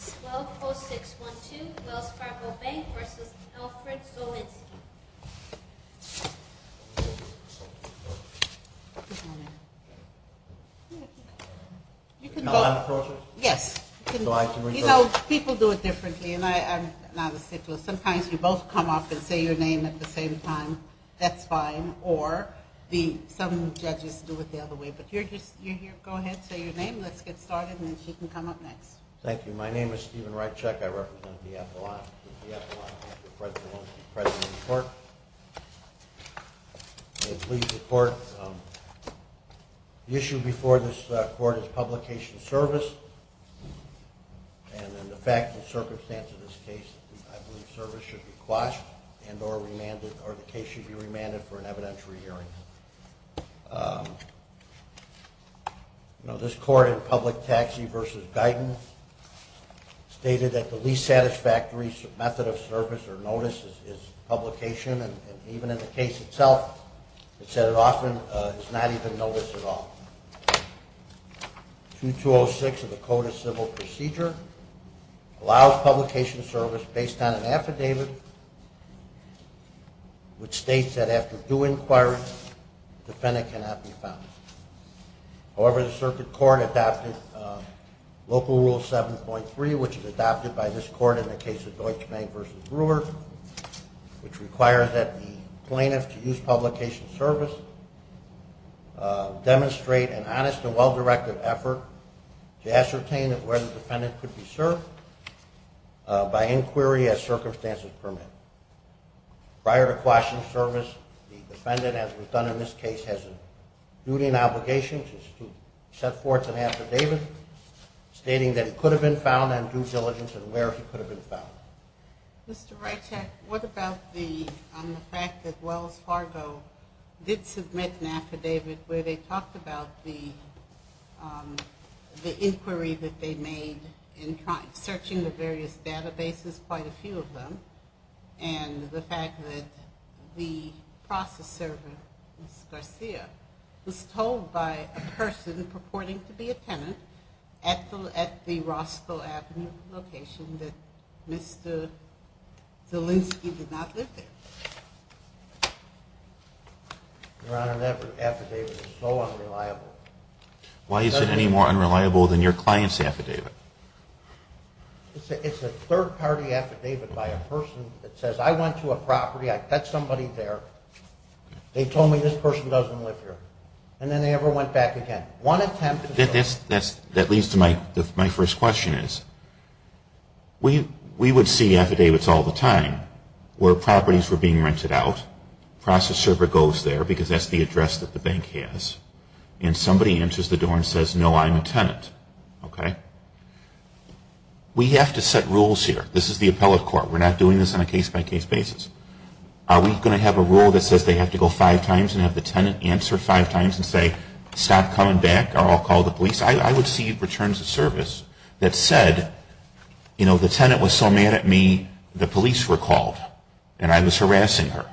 12-06-12 Wells Fargo Bank v. Alfred Zwolinski The issue before this court is publication of service, and the fact and circumstance of this case, I believe service should be quashed and or remanded, or the case should be remanded for an evidentiary hearing. This court in Public Taxi v. Guyton stated that the least satisfactory method of service or notice is publication, and even in the case itself, it said it often is not even notice at all. 22-06 of the Code of Civil Procedure allows publication of service based on an affidavit which states that after due inquiry, the defendant cannot be found. However, the circuit court adopted Local Rule 7.3, which is adopted by this court in the case of Deutsch Bank v. Brewer, which requires that the plaintiff to use publication of service demonstrate an honest and well-directed effort to ascertain of where the defendant could be served by inquiry as circumstances permit. Prior to quashing service, the defendant, as was done in this case, has a duty and obligation to set forth an affidavit stating that he could have been found on due diligence and where he could have been found. Mr. Reitchak, what about the fact that Wells Fargo did submit an affidavit where they talked about the inquiry that they made in searching the various databases, quite a few of them, and the fact that the process servant, Ms. Garcia, was told by a person purporting to be a tenant at the Rossville Avenue location that Mr. Zielinski did not live there? Your Honor, that affidavit is so unreliable. Why is it any more unreliable than your client's affidavit? It's a third-party affidavit by a person that says, I went to a property, I met somebody there, they told me this person doesn't live here, and then they never went back again. That leads to my first question is, we would see affidavits all the time where properties were being rented out, process server goes there because that's the address that the bank has, and somebody enters the door and says, no, I'm a tenant. We have to set rules here. This is the appellate court. We're not doing this on a case-by-case basis. Are we going to have a rule that says they have to go five times and have the tenant answer five times and say, stop coming back or I'll call the police? I would see returns of service that said, you know, the tenant was so mad at me, the police were called, and I was harassing her.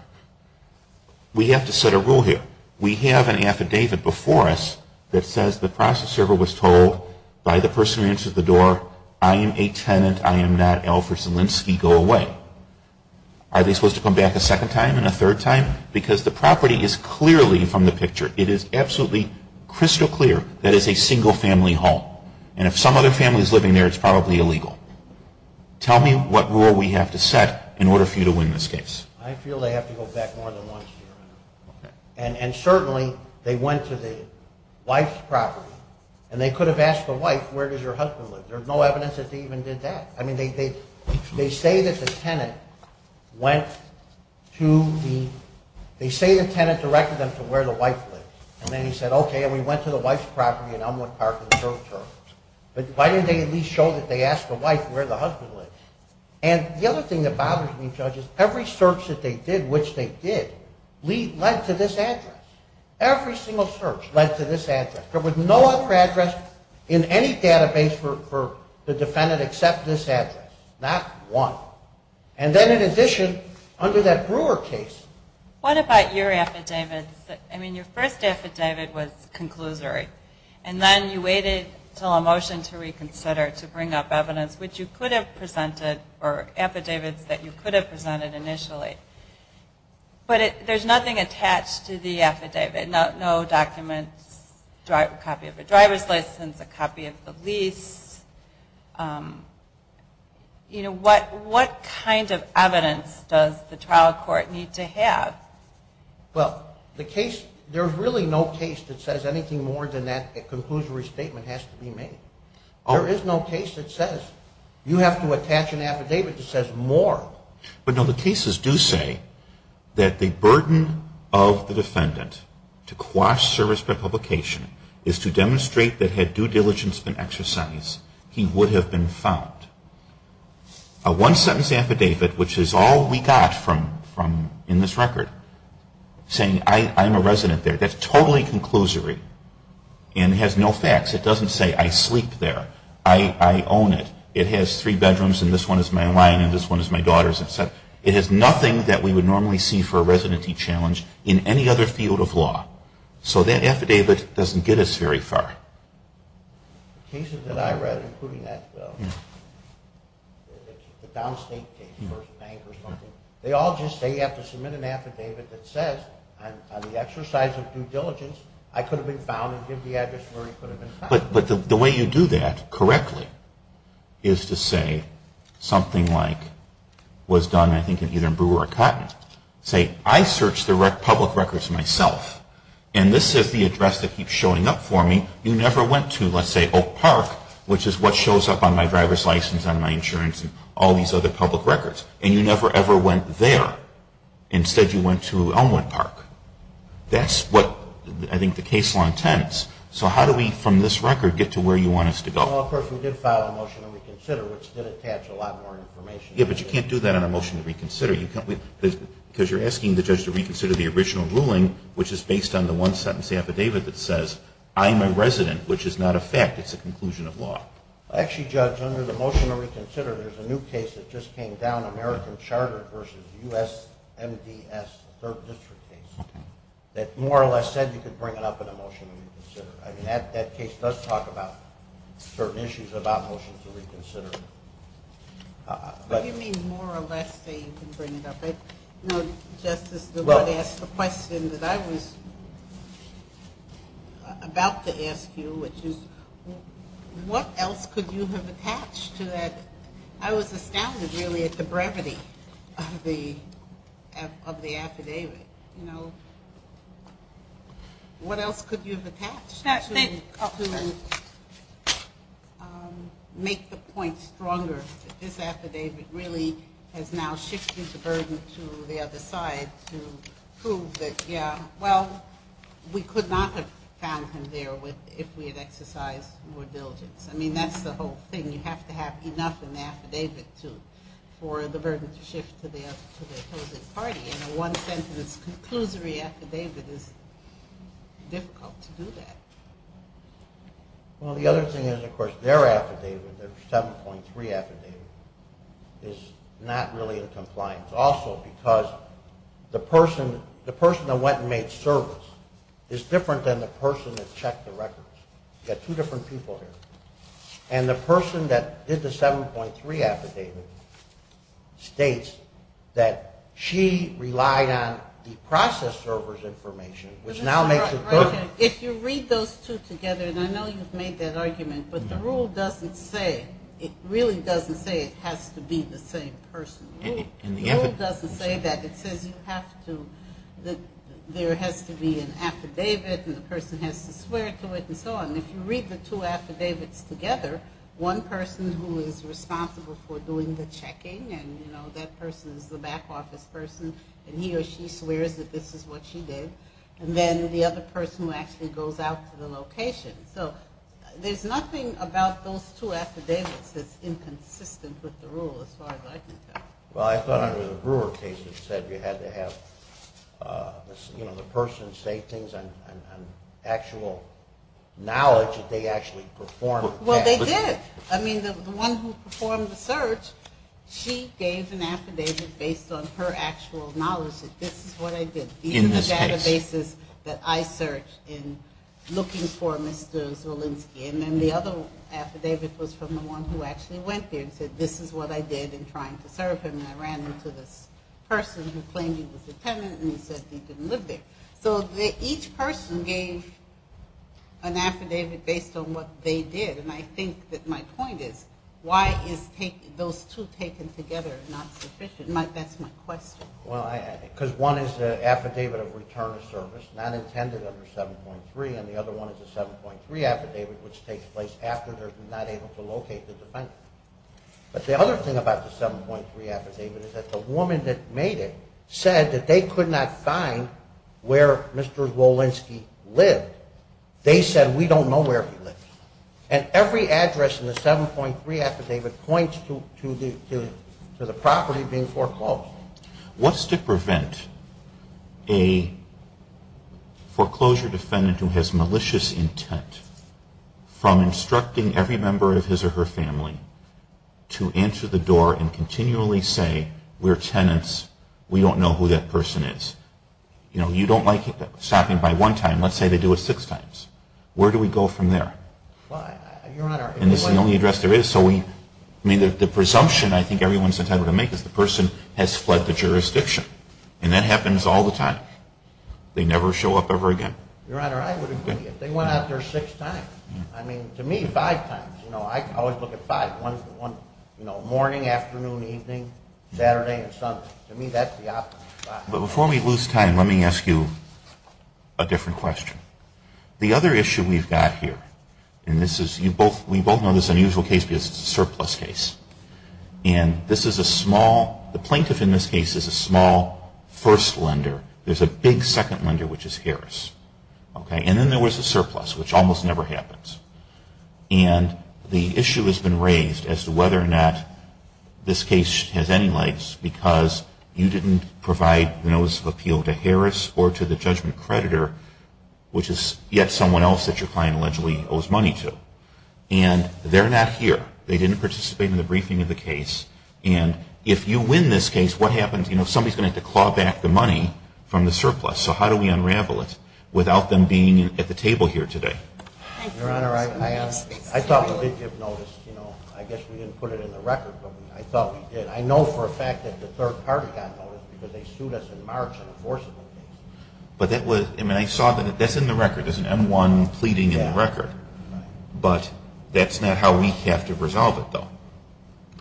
We have to set a rule here. We have an affidavit before us that says the process server was told by the person who entered the door, I am a tenant, I am not Alfred Zielinski, go away. Are they supposed to come back a second time and a third time? Because the property is clearly from the picture. It is absolutely crystal clear that it is a single-family home. And if some other family is living there, it's probably illegal. Tell me what rule we have to set in order for you to win this case. I feel they have to go back more than once. And certainly they went to the wife's property, and they could have asked the wife, where does your husband live? There's no evidence that they even did that. I mean, they say that the tenant went to the – they say the tenant directed them to where the wife lives. And then he said, okay, and we went to the wife's property in Elmwood Park and served terms. But why didn't they at least show that they asked the wife where the husband lives? And the other thing that bothers me, Judge, is every search that they did, which they did, led to this address. Every single search led to this address. There was no other address in any database for the defendant except this address. Not one. And then in addition, under that Brewer case – What about your affidavits? I mean, your first affidavit was conclusory. And then you waited until a motion to reconsider to bring up evidence, which you could have presented, or affidavits that you could have presented initially. But there's nothing attached to the affidavit. No documents, a copy of the driver's license, a copy of the lease. What kind of evidence does the trial court need to have? Well, the case – there's really no case that says anything more than that conclusory statement has to be made. There is no case that says you have to attach an affidavit that says more. But, no, the cases do say that the burden of the defendant to quash service prepublication is to demonstrate that had due diligence been exercised, he would have been found. A one-sentence affidavit, which is all we got from – in this record, saying I'm a resident there, that's totally conclusory and has no facts. It doesn't say I sleep there, I own it, it has three bedrooms and this one is my line and this one is my daughter's. It has nothing that we would normally see for a residency challenge in any other field of law. So that affidavit doesn't get us very far. Cases that I read, including that downstate case, they all just say you have to submit an affidavit that says on the exercise of due diligence, I could have been found and give the address where he could have been found. But the way you do that correctly is to say something like was done, I think, in either Brewer or Cotton. Say I searched the public records myself and this is the address that keeps showing up for me. You never went to, let's say, Oak Park, which is what shows up on my driver's license, on my insurance and all these other public records. And you never, ever went there. Instead, you went to Elmwood Park. That's what I think the case law intends. So how do we, from this record, get to where you want us to go? Well, of course, we did file a motion to reconsider, which did attach a lot more information. Yeah, but you can't do that on a motion to reconsider. Because you're asking the judge to reconsider the original ruling, which is based on the one-sentence affidavit that says I'm a resident, which is not a fact. It's a conclusion of law. Actually, Judge, under the motion to reconsider, there's a new case that just came down, American Charter v. U.S. MDS, third district case, that more or less said you could bring it up in a motion to reconsider. I mean, that case does talk about certain issues about motions to reconsider. But you mean more or less say you can bring it up? No, Justice, the question that I was about to ask you, which is what else could you have attached to that? I was astounded, really, at the brevity of the affidavit. You know, what else could you have attached to make the point stronger that this affidavit really has now shifted the burden to the other side to prove that, yeah, well, we could not have found him there if we had exercised more diligence. I mean, that's the whole thing. You have to have enough in the affidavit for the burden to shift to the opposing party. And a one-sentence conclusory affidavit is difficult to do that. Well, the other thing is, of course, their affidavit, their 7.3 affidavit, is not really in compliance, also because the person that went and made service is different than the person that checked the records. You've got two different people here. And the person that did the 7.3 affidavit states that she relied on the process server's information, which now makes it perfect. If you read those two together, and I know you've made that argument, but the rule doesn't say, it really doesn't say it has to be the same person. The rule doesn't say that. It says you have to, there has to be an affidavit and the person has to swear to it and so on. If you read the two affidavits together, one person who is responsible for doing the checking and that person is the back office person and he or she swears that this is what she did, and then the other person who actually goes out to the location. So there's nothing about those two affidavits that's inconsistent with the rule as far as I can tell. Well, I thought under the Brewer case it said you had to have the person say things on actual knowledge that they actually performed. Well, they did. I mean, the one who performed the search, she gave an affidavit based on her actual knowledge that this is what I did. These are the databases that I searched in looking for Mr. Zulinski. And then the other affidavit was from the one who actually went there and said this is what I did in trying to serve him. I ran into this person who claimed he was a tenant and he said he didn't live there. So each person gave an affidavit based on what they did, and I think that my point is why is those two taken together not sufficient? That's my question. Because one is an affidavit of return of service, not intended under 7.3, and the other one is a 7.3 affidavit which takes place after they're not able to locate the defendant. But the other thing about the 7.3 affidavit is that the woman that made it said that they could not find where Mr. Zulinski lived. They said we don't know where he lived. And every address in the 7.3 affidavit points to the property being foreclosed. What's to prevent a foreclosure defendant who has malicious intent from instructing every member of his or her family to answer the door and continually say we're tenants, we don't know who that person is? You know, you don't like stopping by one time, let's say they do it six times. Where do we go from there? And this is the only address there is, so we, I mean, the presumption I think everyone's entitled to make is the person has fled the jurisdiction. And that happens all the time. They never show up ever again. Your Honor, I would agree. If they went out there six times, I mean, to me, five times. You know, I always look at five. You know, morning, afternoon, evening, Saturday and Sunday. To me, that's the optimal spot. But before we lose time, let me ask you a different question. The other issue we've got here, and this is, you both, we both know this is an unusual case because it's a surplus case. And this is a small, the plaintiff in this case is a small first lender. There's a big second lender, which is Harris. Okay? And then there was a surplus, which almost never happens. And the issue has been raised as to whether or not this case has any legs because you didn't provide notice of appeal to Harris or to the judgment creditor, which is yet someone else that your client allegedly owes money to. And they're not here. They didn't participate in the briefing of the case. And if you win this case, what happens? You know, somebody's going to have to claw back the money from the surplus. So how do we unravel it without them being at the table here today? Your Honor, I thought we did give notice. You know, I guess we didn't put it in the record, but I thought we did. I know for a fact that the third party got notice because they sued us in March on a forcible case. But that was, I mean, I saw that that's in the record. There's an M-1 pleading in the record. But that's not how we have to resolve it, though.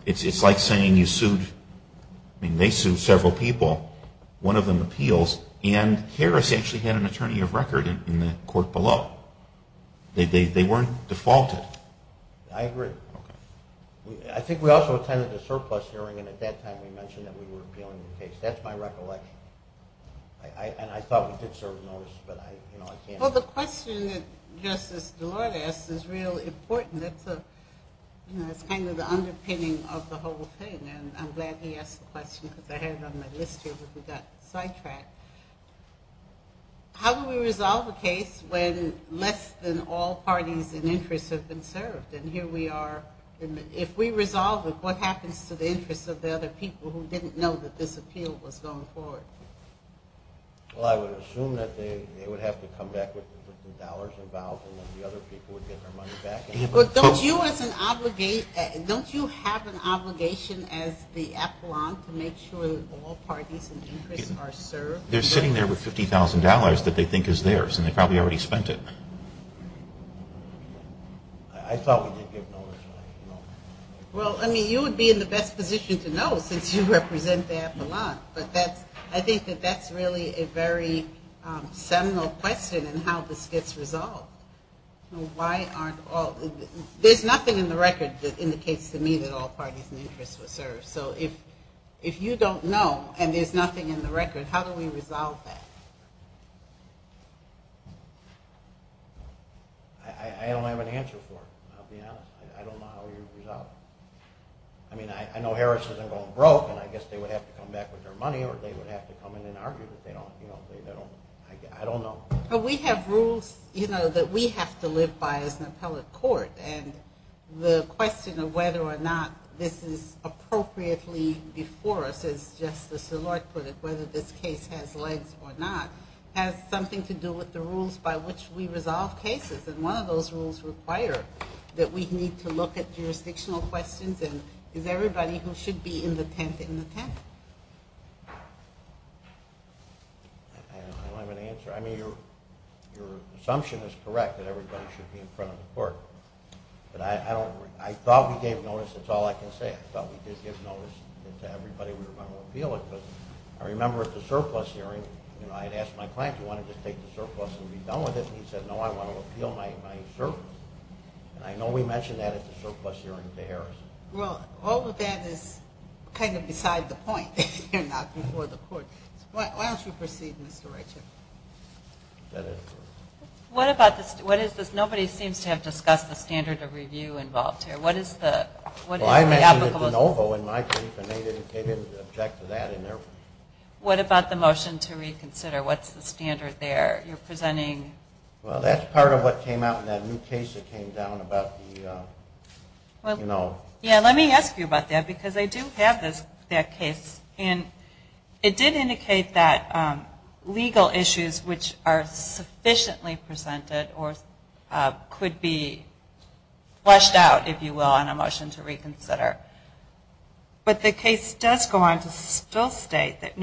It's like saying you sued, I mean, they sued several people, one of them appeals, and Harris actually had an attorney of record in the court below. They weren't defaulted. I agree. I think we also attended the surplus hearing, and at that time we mentioned that we were appealing the case. That's my recollection. And I thought we did serve notice, but I can't. Well, the question that Justice Delord asked is real important. It's kind of the underpinning of the whole thing, and I'm glad he asked the question because I had it on my list here that we got sidetracked. How do we resolve a case when less than all parties and interests have been served? And here we are. If we resolve it, what happens to the interests of the other people who didn't know that this appeal was going forward? Well, I would assume that they would have to come back with the dollars involved and then the other people would get their money back. Don't you have an obligation as the affluent to make sure that all parties and interests are served? They're sitting there with $50,000 that they think is theirs, and they probably already spent it. I thought we did give notice. Well, I mean, you would be in the best position to know since you represent the affluent. But I think that that's really a very seminal question in how this gets resolved. There's nothing in the record that indicates to me that all parties and interests were served. So if you don't know and there's nothing in the record, how do we resolve that? I don't have an answer for it. I'll be honest. I don't know how you resolve it. I mean, I know Harris isn't going broke, and I guess they would have to come back with their money or they would have to come in and argue. I don't know. But we have rules that we have to live by as an appellate court. And the question of whether or not this is appropriately before us, as Justice Szilard put it, whether this case has legs or not, has something to do with the rules by which we resolve cases. And one of those rules require that we need to look at jurisdictional questions and is everybody who should be in the tent in the tent? I don't know if I have an answer. I mean, your assumption is correct that everybody should be in front of the court. But I thought we gave notice. That's all I can say. I thought we did give notice to everybody we were going to appeal it. But I remember at the surplus hearing, I had asked my client, do you want to just take the surplus and be done with it? And he said, no, I want to appeal my surplus. And I know we mentioned that at the surplus hearing to Harris. Well, all of that is kind of beside the point if you're not before the court. Why don't you proceed, Mr. Richard? What is this? Nobody seems to have discussed the standard of review involved here. Well, I mentioned it to NOVO in my brief, and they didn't object to that. What about the motion to reconsider? What's the standard there? You're presenting? Well, that's part of what came out in that new case that came down about the, you know. Yeah, let me ask you about that because I do have that case. And it did indicate that legal issues which are sufficiently presented or could be flushed out, if you will, on a motion to reconsider. But the case does go on to still state that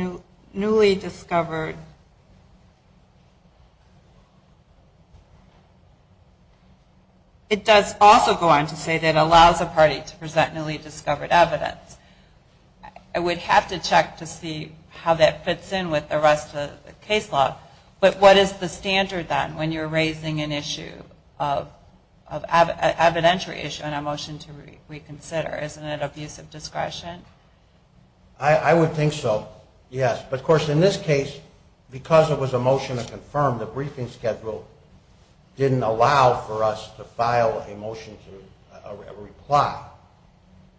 newly discovered. It does also go on to say that it allows a party to present newly discovered evidence. I would have to check to see how that fits in with the rest of the case law. But what is the standard then when you're raising an issue, an evidentiary issue, on a motion to reconsider? Isn't it abuse of discretion? I would think so, yes. But, of course, in this case, because it was a motion to confirm, the briefing schedule didn't allow for us to file a motion to reply.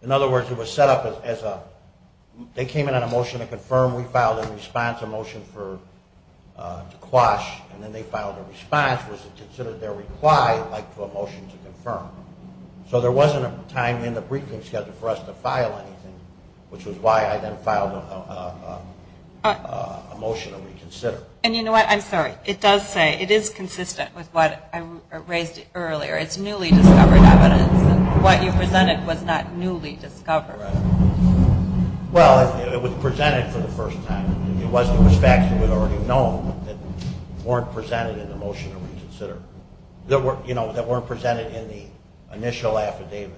In other words, it was set up as they came in on a motion to confirm, we filed a response, a motion to quash, and then they filed a response. Was it considered their reply like to a motion to confirm? So there wasn't a time in the briefing schedule for us to file anything, which was why I then filed a motion to reconsider. And you know what? I'm sorry. It does say, it is consistent with what I raised earlier. It's newly discovered evidence. What you presented was not newly discovered. Well, it was presented for the first time. It was facts that we'd already known that weren't presented in the motion to reconsider, that weren't presented in the initial affidavit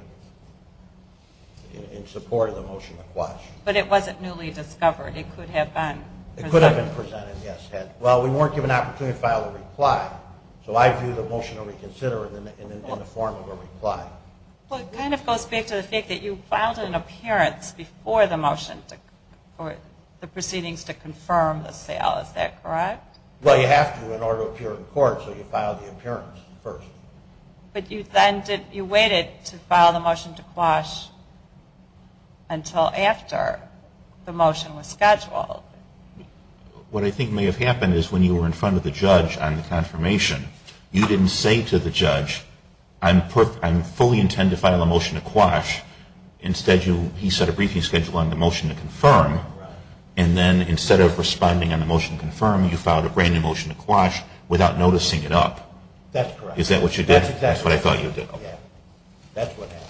in support of the motion to quash. But it wasn't newly discovered. It could have been presented. It could have been presented, yes. Well, we weren't given an opportunity to file a reply, so I view the motion to reconsider in the form of a reply. Well, it kind of goes back to the fact that you filed an appearance before the motion for the proceedings to confirm the sale. Is that correct? Well, you have to in order to appear in court, so you file the appearance first. But you waited to file the motion to quash until after the motion was scheduled. What I think may have happened is when you were in front of the judge on the confirmation, you didn't say to the judge, I fully intend to file a motion to quash. Instead, he set a briefing schedule on the motion to confirm, and then instead of responding on the motion to confirm, you filed a brand-new motion to quash without noticing it up. That's correct. Is that what you did? That's exactly what I did. That's what happened.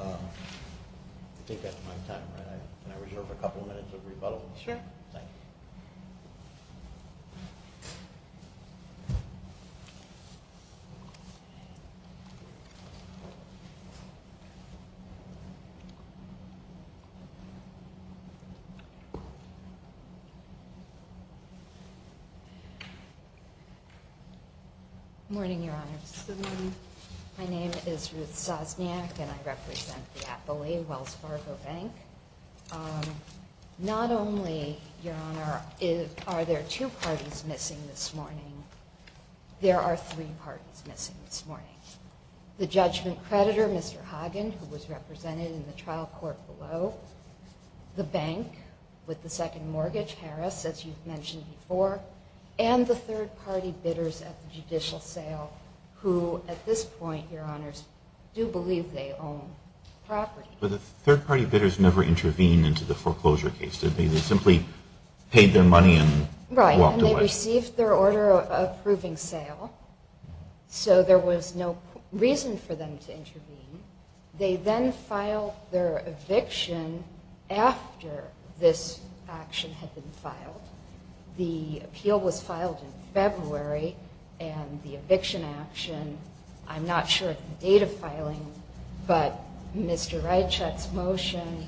I think that's my time, right? Can I reserve a couple minutes of rebuttal? Sure. Thank you. Good morning, Your Honor. Good morning. My name is Ruth Sosniak, and I represent the Appley-Wells Fargo Bank. Not only, Your Honor, are there two parties missing this morning, there are three parties missing this morning. The judgment creditor, Mr. Hagen, who was represented in the trial court below, the bank with the second mortgage, Harris, as you've mentioned before, and the third-party bidders at the judicial sale who, at this point, Your Honors, do believe they own property. But the third-party bidders never intervened into the foreclosure case. They simply paid their money and walked away. Right, and they received their order of approving sale, so there was no reason for them to intervene. They then filed their eviction after this action had been filed. The appeal was filed in February, and the eviction action, I'm not sure of the date of filing, but Mr. Reichert's motion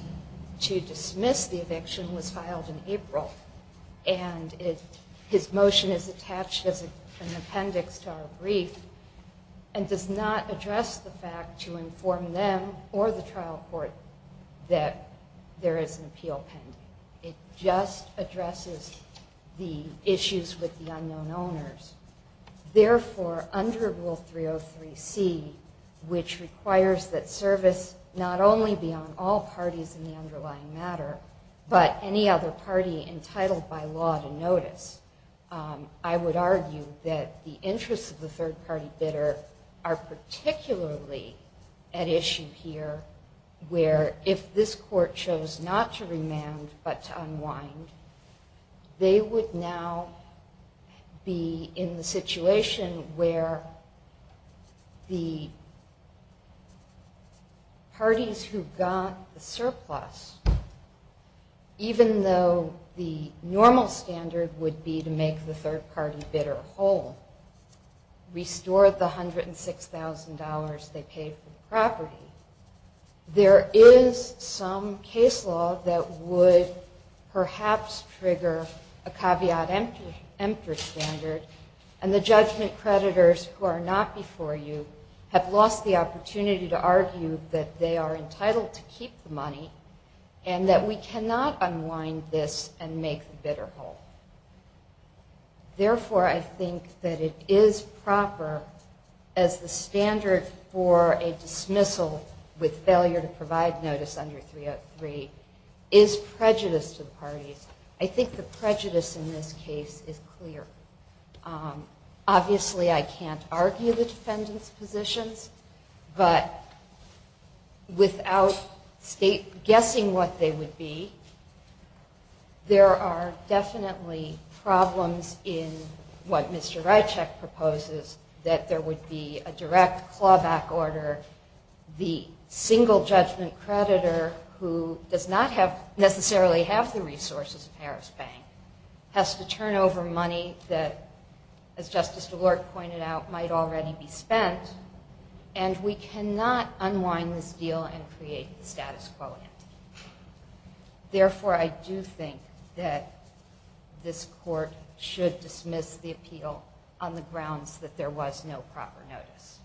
to dismiss the eviction was filed in April. And his motion is attached as an appendix to our brief and does not address the fact to inform them or the trial court that there is an appeal pending. It just addresses the issues with the unknown owners. Therefore, under Rule 303C, which requires that service not only be on all parties in the underlying matter, but any other party entitled by law to notice, I would argue that the interests of the third-party bidder are particularly at issue here, where if this court chose not to remand but to unwind, they would now be in the situation where the parties who got the surplus, even though the normal standard would be to make the third-party bidder whole, restore the $106,000 they paid for the property, there is some case law that would perhaps trigger a caveat emptor standard, and the judgment creditors who are not before you have lost the opportunity to argue that they are entitled to keep the money and that we cannot unwind this and make the bidder whole. Therefore, I think that it is proper as the standard for a dismissal with failure to provide notice under 303 is prejudice to the parties. I think the prejudice in this case is clear. Obviously, I can't argue the defendant's positions, but without guessing what they would be, there are definitely problems in what Mr. Rychek proposes, that there would be a direct clawback order. The single judgment creditor who does not necessarily have the resources of Harris Bank has to turn over money that, as Justice DeLorte pointed out, might already be spent, and we cannot unwind this deal and create the status quo entity. Therefore, I do think that this court should dismiss the appeal on the grounds that there was no proper notice.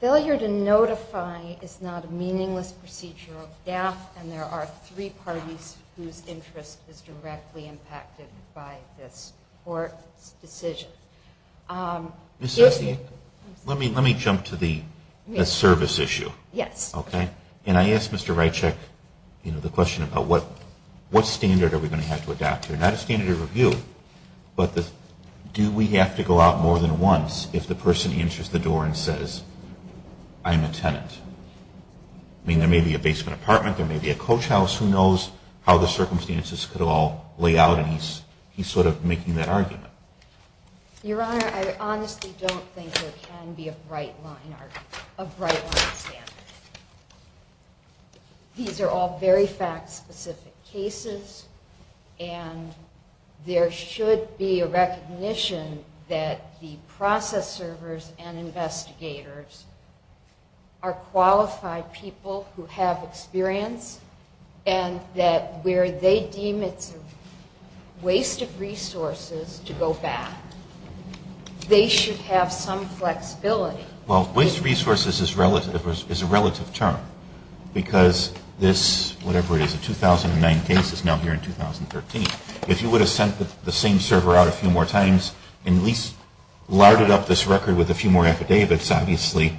Failure to notify is not a meaningless procedure of death, and there are three parties whose interest is directly impacted by this court's decision. Let me jump to the service issue. Yes. Okay. And I asked Mr. Rychek the question about what standard are we going to have to adopt here. Not a standard of review, but do we have to go out more than once if the person enters the door and says, I'm a tenant. I mean, there may be a basement apartment, there may be a coach house, who knows how the circumstances could all lay out, and he's sort of making that argument. Your Honor, I honestly don't think there can be a bright line standard. These are all very fact-specific cases, and there should be a recognition that the process servers and investigators are qualified people who have experience, and that where they deem it's a waste of resources to go back, they should have some flexibility. Well, waste of resources is a relative term, because this, whatever it is, the 2009 case is now here in 2013. If you would have sent the same server out a few more times and at least larded up this record with a few more affidavits, obviously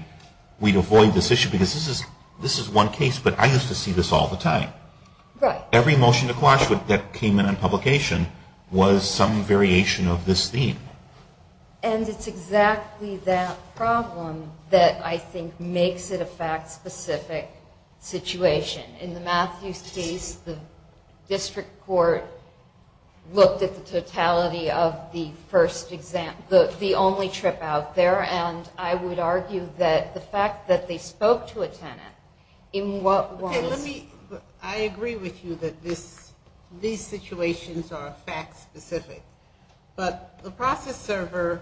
we'd avoid this issue, because this is one case, but I used to see this all the time. Every motion to quash that came in on publication was some variation of this theme. And it's exactly that problem that I think makes it a fact-specific situation. In the Matthews case, the district court looked at the totality of the first exam, the only trip out there, and I would argue that the fact that they spoke to a tenant in what was... Okay, let me, I agree with you that this, these situations are fact-specific. But the process server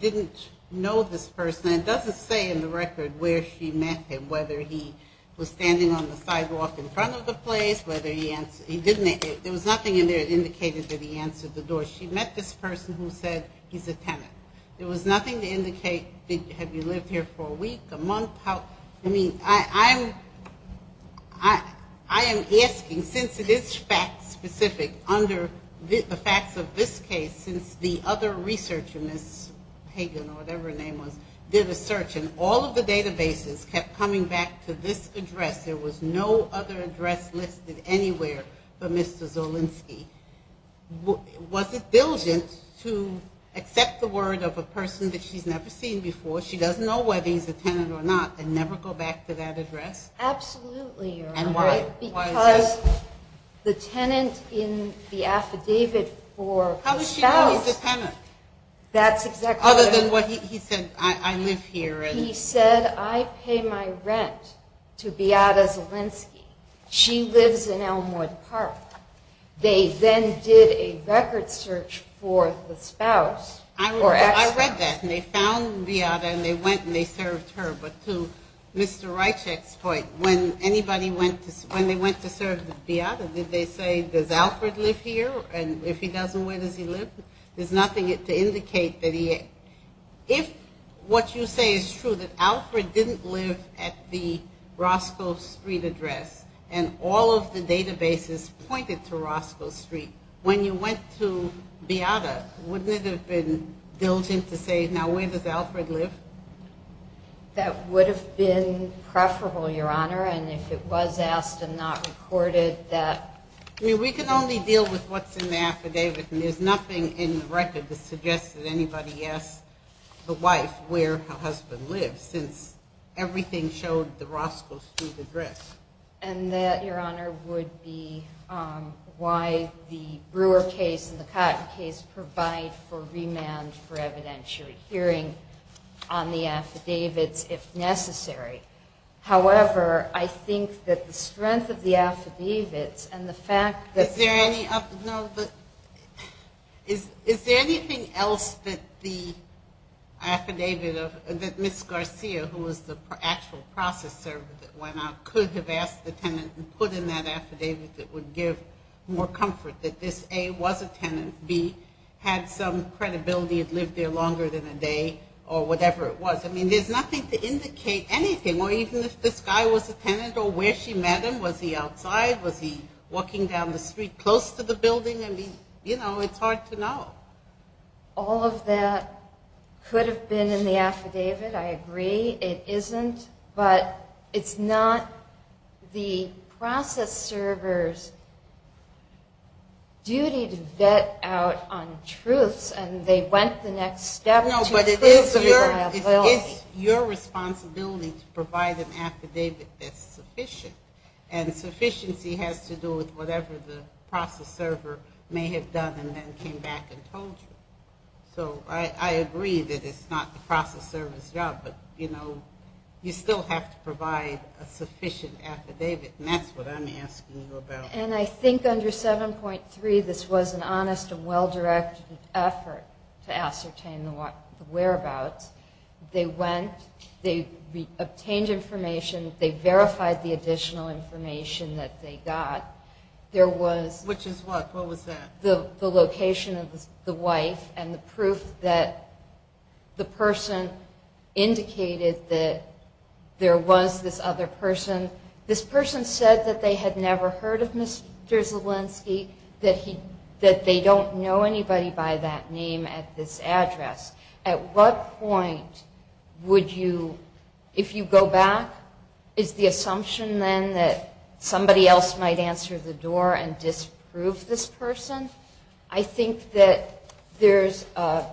didn't know this person, and it doesn't say in the record where she met him, whether he was standing on the sidewalk in front of the place, whether he answered, he didn't, there was nothing in there that indicated that he answered the door. She met this person who said he's a tenant. There was nothing to indicate, have you lived here for a week, a month, how, I mean, I am asking, since it is fact-specific under the facts of this case, since the other researcher, Ms. Hagen or whatever her name was, did a search, and all of the databases kept coming back to this address, there was no other address listed anywhere for Mr. Zolinski, was it diligent to accept the word of a person that she's never seen before, she doesn't know whether he's a tenant or not, and never go back to that address? Absolutely, Your Honor. And why? Because the tenant in the affidavit for the spouse... How does she know he's a tenant? That's exactly what... Other than what he said, I live here, and... He said, I pay my rent to Beata Zolinski. She lives in Elmwood Park. They then did a record search for the spouse. I read that, and they found Beata, and they went and they served her, but to Mr. Rychek's point, when they went to serve Beata, did they say, does Alfred live here, and if he doesn't, where does he live? There's nothing to indicate that he... If what you say is true, that Alfred didn't live at the Roscoe Street address, and all of the databases pointed to Roscoe Street, when you went to Beata, wouldn't it have been diligent to say, now where does Alfred live? That would have been preferable, Your Honor, and if it was asked and not recorded, that... We can only deal with what's in the affidavit, and there's nothing in the record that suggests that anybody asked the wife where her husband lives, since everything showed the Roscoe Street address. And that, Your Honor, would be why the Brewer case and the Cotton case provide for remand for evidentiary hearing on the affidavits if necessary. However, I think that the strength of the affidavits and the fact that... Is there anything else that the affidavit of Ms. Garcia, who was the actual process server that went out, could have asked the tenant and put in that affidavit that would give more comfort that this, A, was a tenant, B, had some credibility, had lived there longer than a day, or whatever it was. I mean, there's nothing to indicate anything, or even if this guy was a tenant or where she met him. Was he outside? Was he walking down the street close to the building? I mean, you know, it's hard to know. All of that could have been in the affidavit. I agree it isn't. But it's not the process server's duty to vet out on truths and they went the next step to prove their liability. No, but it is your responsibility to provide an affidavit that's sufficient. And sufficiency has to do with whatever the process server may have done and then came back and told you. So I agree that it's not the process server's job, but you still have to provide a sufficient affidavit, and that's what I'm asking you about. And I think under 7.3 this was an honest and well-directed effort to ascertain the whereabouts. They went, they obtained information, they verified the additional information that they got. Which is what? What was that? The location of the wife and the proof that the person indicated that there was this other person. This person said that they had never heard of Mr. Zielinski, that they don't know anybody by that name at this address. At what point would you, if you go back, and disprove this person? I think that there's a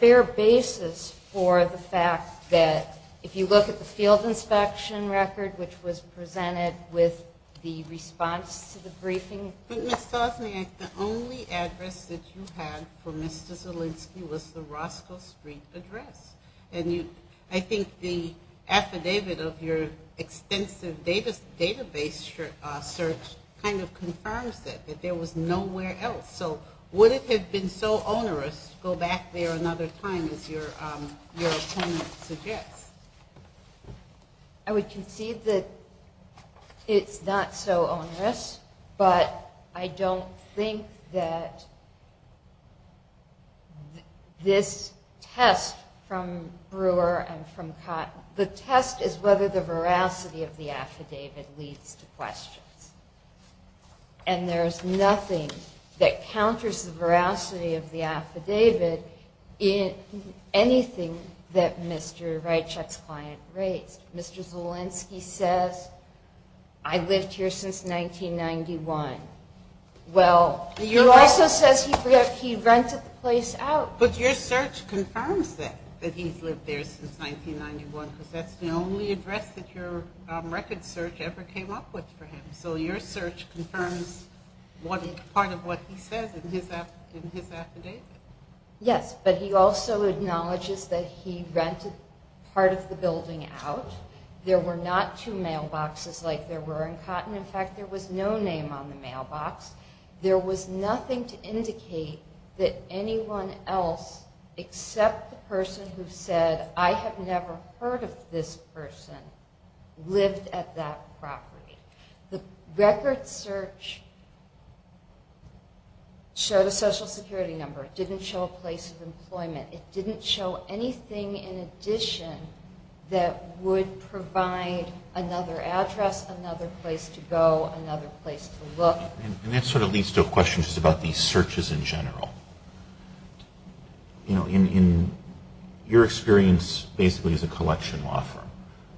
fair basis for the fact that, if you look at the field inspection record, which was presented with the response to the briefing. But Ms. Stosny, the only address that you had for Mr. Zielinski was the Roscoe Street address. I think the affidavit of your extensive database search kind of confirms it, that there was nowhere else. So would it have been so onerous to go back there another time, as your attorney suggests? I would concede that it's not so onerous, but I don't think that this test from Brewer and from Cotton, the test is whether the veracity of the affidavit leads to questions. And there's nothing that counters the veracity of the affidavit in anything that Mr. Reitschek's client raised. Mr. Zielinski says, I've lived here since 1991. Well, he also says he rented the place out. But your search confirms that, that he's lived there since 1991, because that's the only address that your record search ever came up with for him. So your search confirms part of what he says in his affidavit. Yes, but he also acknowledges that he rented part of the building out. There were not two mailboxes like there were in Cotton. In fact, there was no name on the mailbox. There was nothing to indicate that anyone else, except the person who said, I have never heard of this person, lived at that property. The record search showed a Social Security number. It didn't show a place of employment. It didn't show anything in addition that would provide another address, another place to go, another place to look. And that sort of leads to a question just about these searches in general. You know, in your experience basically as a collection law firm,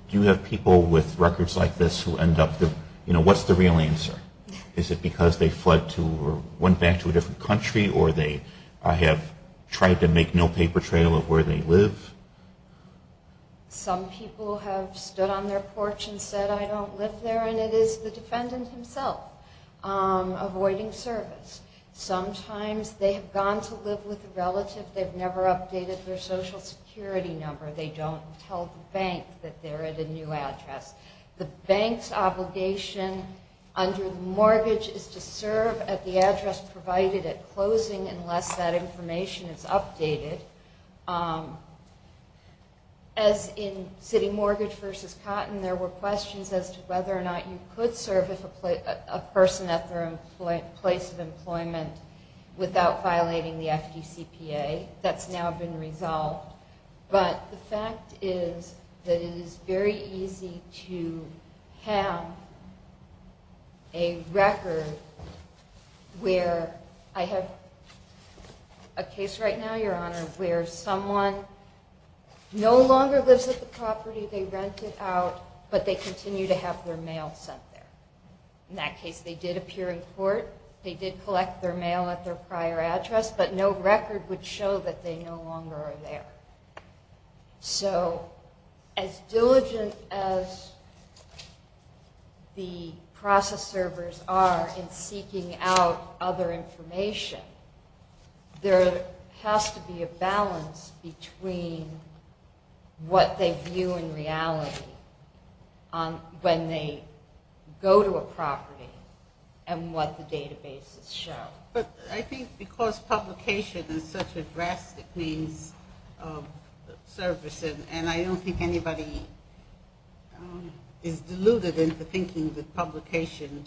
do you have people with records like this who end up, you know, what's the real answer? Is it because they fled to or went back to a different country or they have tried to make no paper trail of where they live? Some people have stood on their porch and said, I don't live there, and it is the defendant himself avoiding service. Sometimes they have gone to live with a relative. They've never updated their Social Security number. They don't tell the bank that they're at a new address. provided at closing unless that information is updated. As in city mortgage versus cotton, there were questions as to whether or not you could serve a person at their place of employment without violating the FDCPA. That's now been resolved. But the fact is that it is very easy to have a record where I have a case right now, Your Honor, where someone no longer lives at the property they rented out, but they continue to have their mail sent there. In that case, they did appear in court. They did collect their mail at their prior address, but no record would show that they no longer are there. So as diligent as the process servers are in seeking out other information, there has to be a balance between what they view in reality when they go to a property and what the databases show. But I think because publication is such a drastic means of service, and I don't think anybody is deluded into thinking that publication,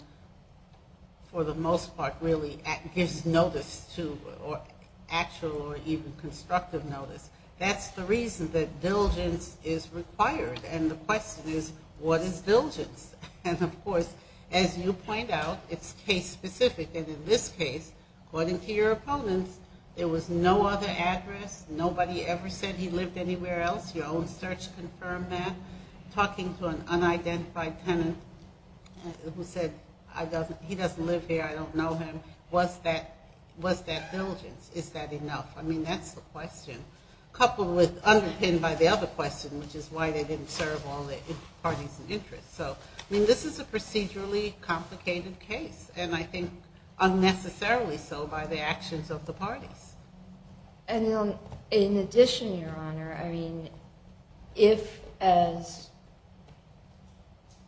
for the most part, really gives notice to actual or even constructive notice. That's the reason that diligence is required. And the question is, what is diligence? And of course, as you point out, it's case specific. And in this case, according to your opponents, there was no other address. Nobody ever said he lived anywhere else. Your own search confirmed that. Talking to an unidentified tenant who said, he doesn't live here, I don't know him. Was that diligence? Is that enough? I mean, that's the question. Coupled with, underpinned by the other question, which is why they didn't serve all the parties in interest. So, I mean, this is a procedurally complicated case. And I think unnecessarily so by the actions of the parties. And in addition, Your Honor, I mean, if, as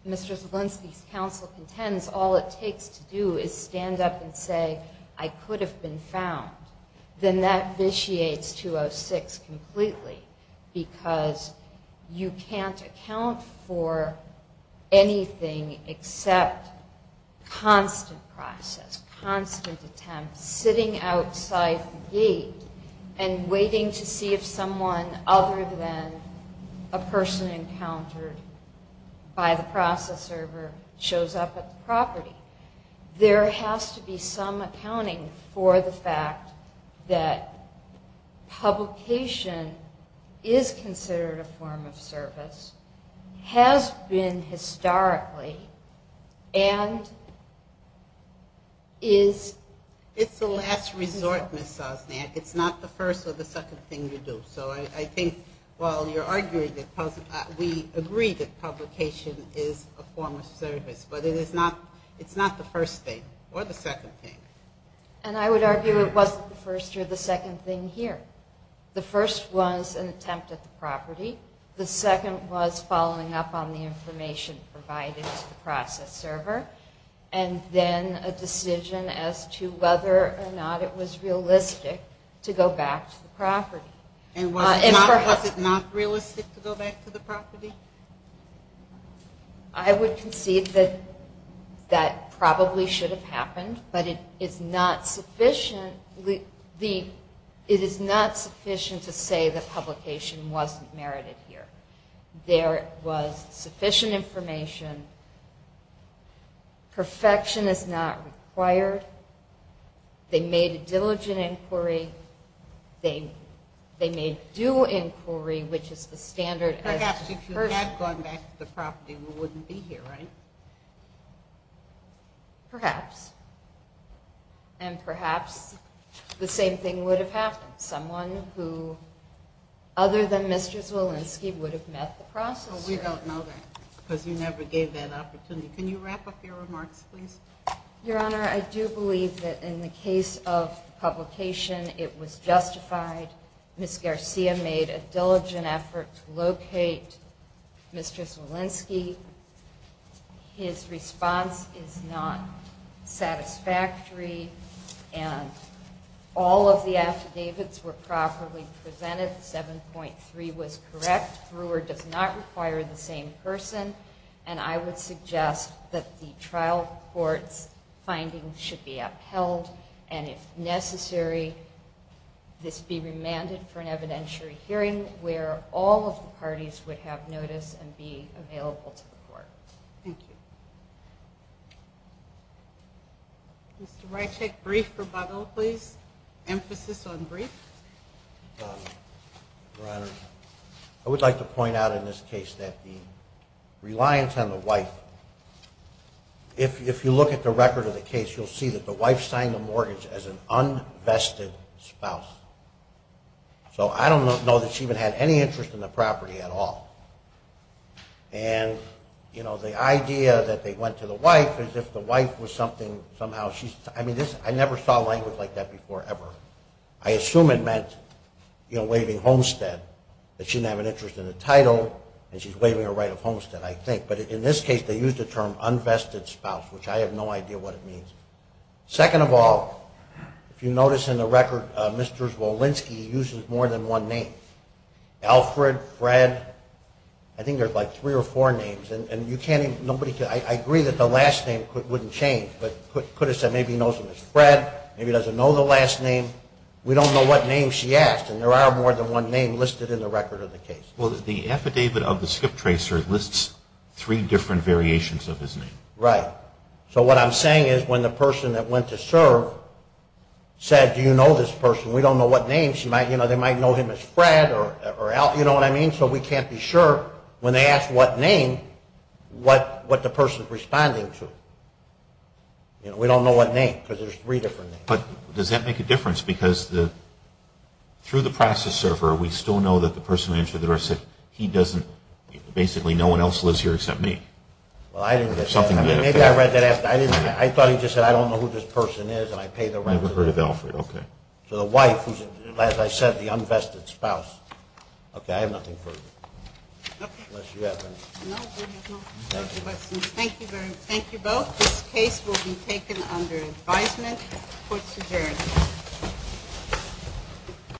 Mr. Zielinski's counsel contends, all it takes to do is stand up and say, I could have been found, then that vitiates 206 completely. Because you can't account for anything except constant process, constant attempts, sitting outside the gate and waiting to see if someone other than a person encountered by the process server shows up at the property. There has to be some accounting for the fact that publication is considered a form of service, has been historically, and is... It's a last resort, Ms. Sosnack. It's not the first or the second thing you do. So I think while you're arguing that we agree that publication is a form of service, but it's not the first thing or the second thing. And I would argue it wasn't the first or the second thing here. The first was an attempt at the property. The second was following up on the information provided to the process server. And then a decision as to whether or not it was realistic to go back to the property. And was it not realistic to go back to the property? I would concede that that probably should have happened, but it is not sufficient to say that publication wasn't merited here. There was sufficient information. Perfection is not required. They made a diligent inquiry. They made due inquiry, which is the standard... Perhaps if you had gone back to the property, we wouldn't be here, right? Perhaps. And perhaps the same thing would have happened. Someone who, other than Mr. Zwolinski, would have met the process server. We don't know that because you never gave that opportunity. Can you wrap up your remarks, please? Your Honor, I do believe that in the case of publication, it was justified. Ms. Garcia made a diligent effort to locate Mr. Zwolinski. His response is not satisfactory. And all of the affidavits were properly presented. 7.3 was correct. Brewer does not require the same person. And I would suggest that the trial court's findings should be upheld. And if necessary, this be remanded for an evidentiary hearing where all of the parties would have notice and be available to the court. Thank you. Mr. Reichek, brief rebuttal, please. Emphasis on brief. Your Honor, I would like to point out in this case that the reliance on the wife, if you look at the record of the case, you'll see that the wife signed the mortgage as an unvested spouse. So I don't know that she even had any interest in the property at all. And, you know, the idea that they went to the wife is if the wife was something, somehow she's, I mean, I never saw language like that before ever. I assume it meant, you know, waiving homestead, that she didn't have an interest in the title and she's waiving her right of homestead, I think. But in this case, they used the term unvested spouse, which I have no idea what it means. Second of all, if you notice in the record, Mr. Zwolinski uses more than one name. Alfred, Fred, I think there's like three or four names. And you can't even, nobody can, I agree that the last name wouldn't change, but could have said maybe he knows him as Fred, maybe he doesn't know the last name. We don't know what name she asked, and there are more than one name listed in the record of the case. Well, the affidavit of the skip tracer lists three different variations of his name. Right. So what I'm saying is when the person that went to serve said, do you know this person, we don't know what name, they might know him as Fred or Al, you know what I mean? So we can't be sure when they ask what name, what the person is responding to. We don't know what name, because there's three different names. But does that make a difference? Because through the process server, we still know that the person who entered the door said, he doesn't, basically no one else lives here except me. Well, I didn't get that. Maybe I read that. I thought he just said, I don't know who this person is, and I paid the rent. You never heard of Alfred, okay. So the wife, who's, as I said, the unvested spouse. Okay, I have nothing further. Okay. Unless you have anything. No, we have no further questions. Thank you very much. Thank you both. This case will be taken under advisement. Court is adjourned.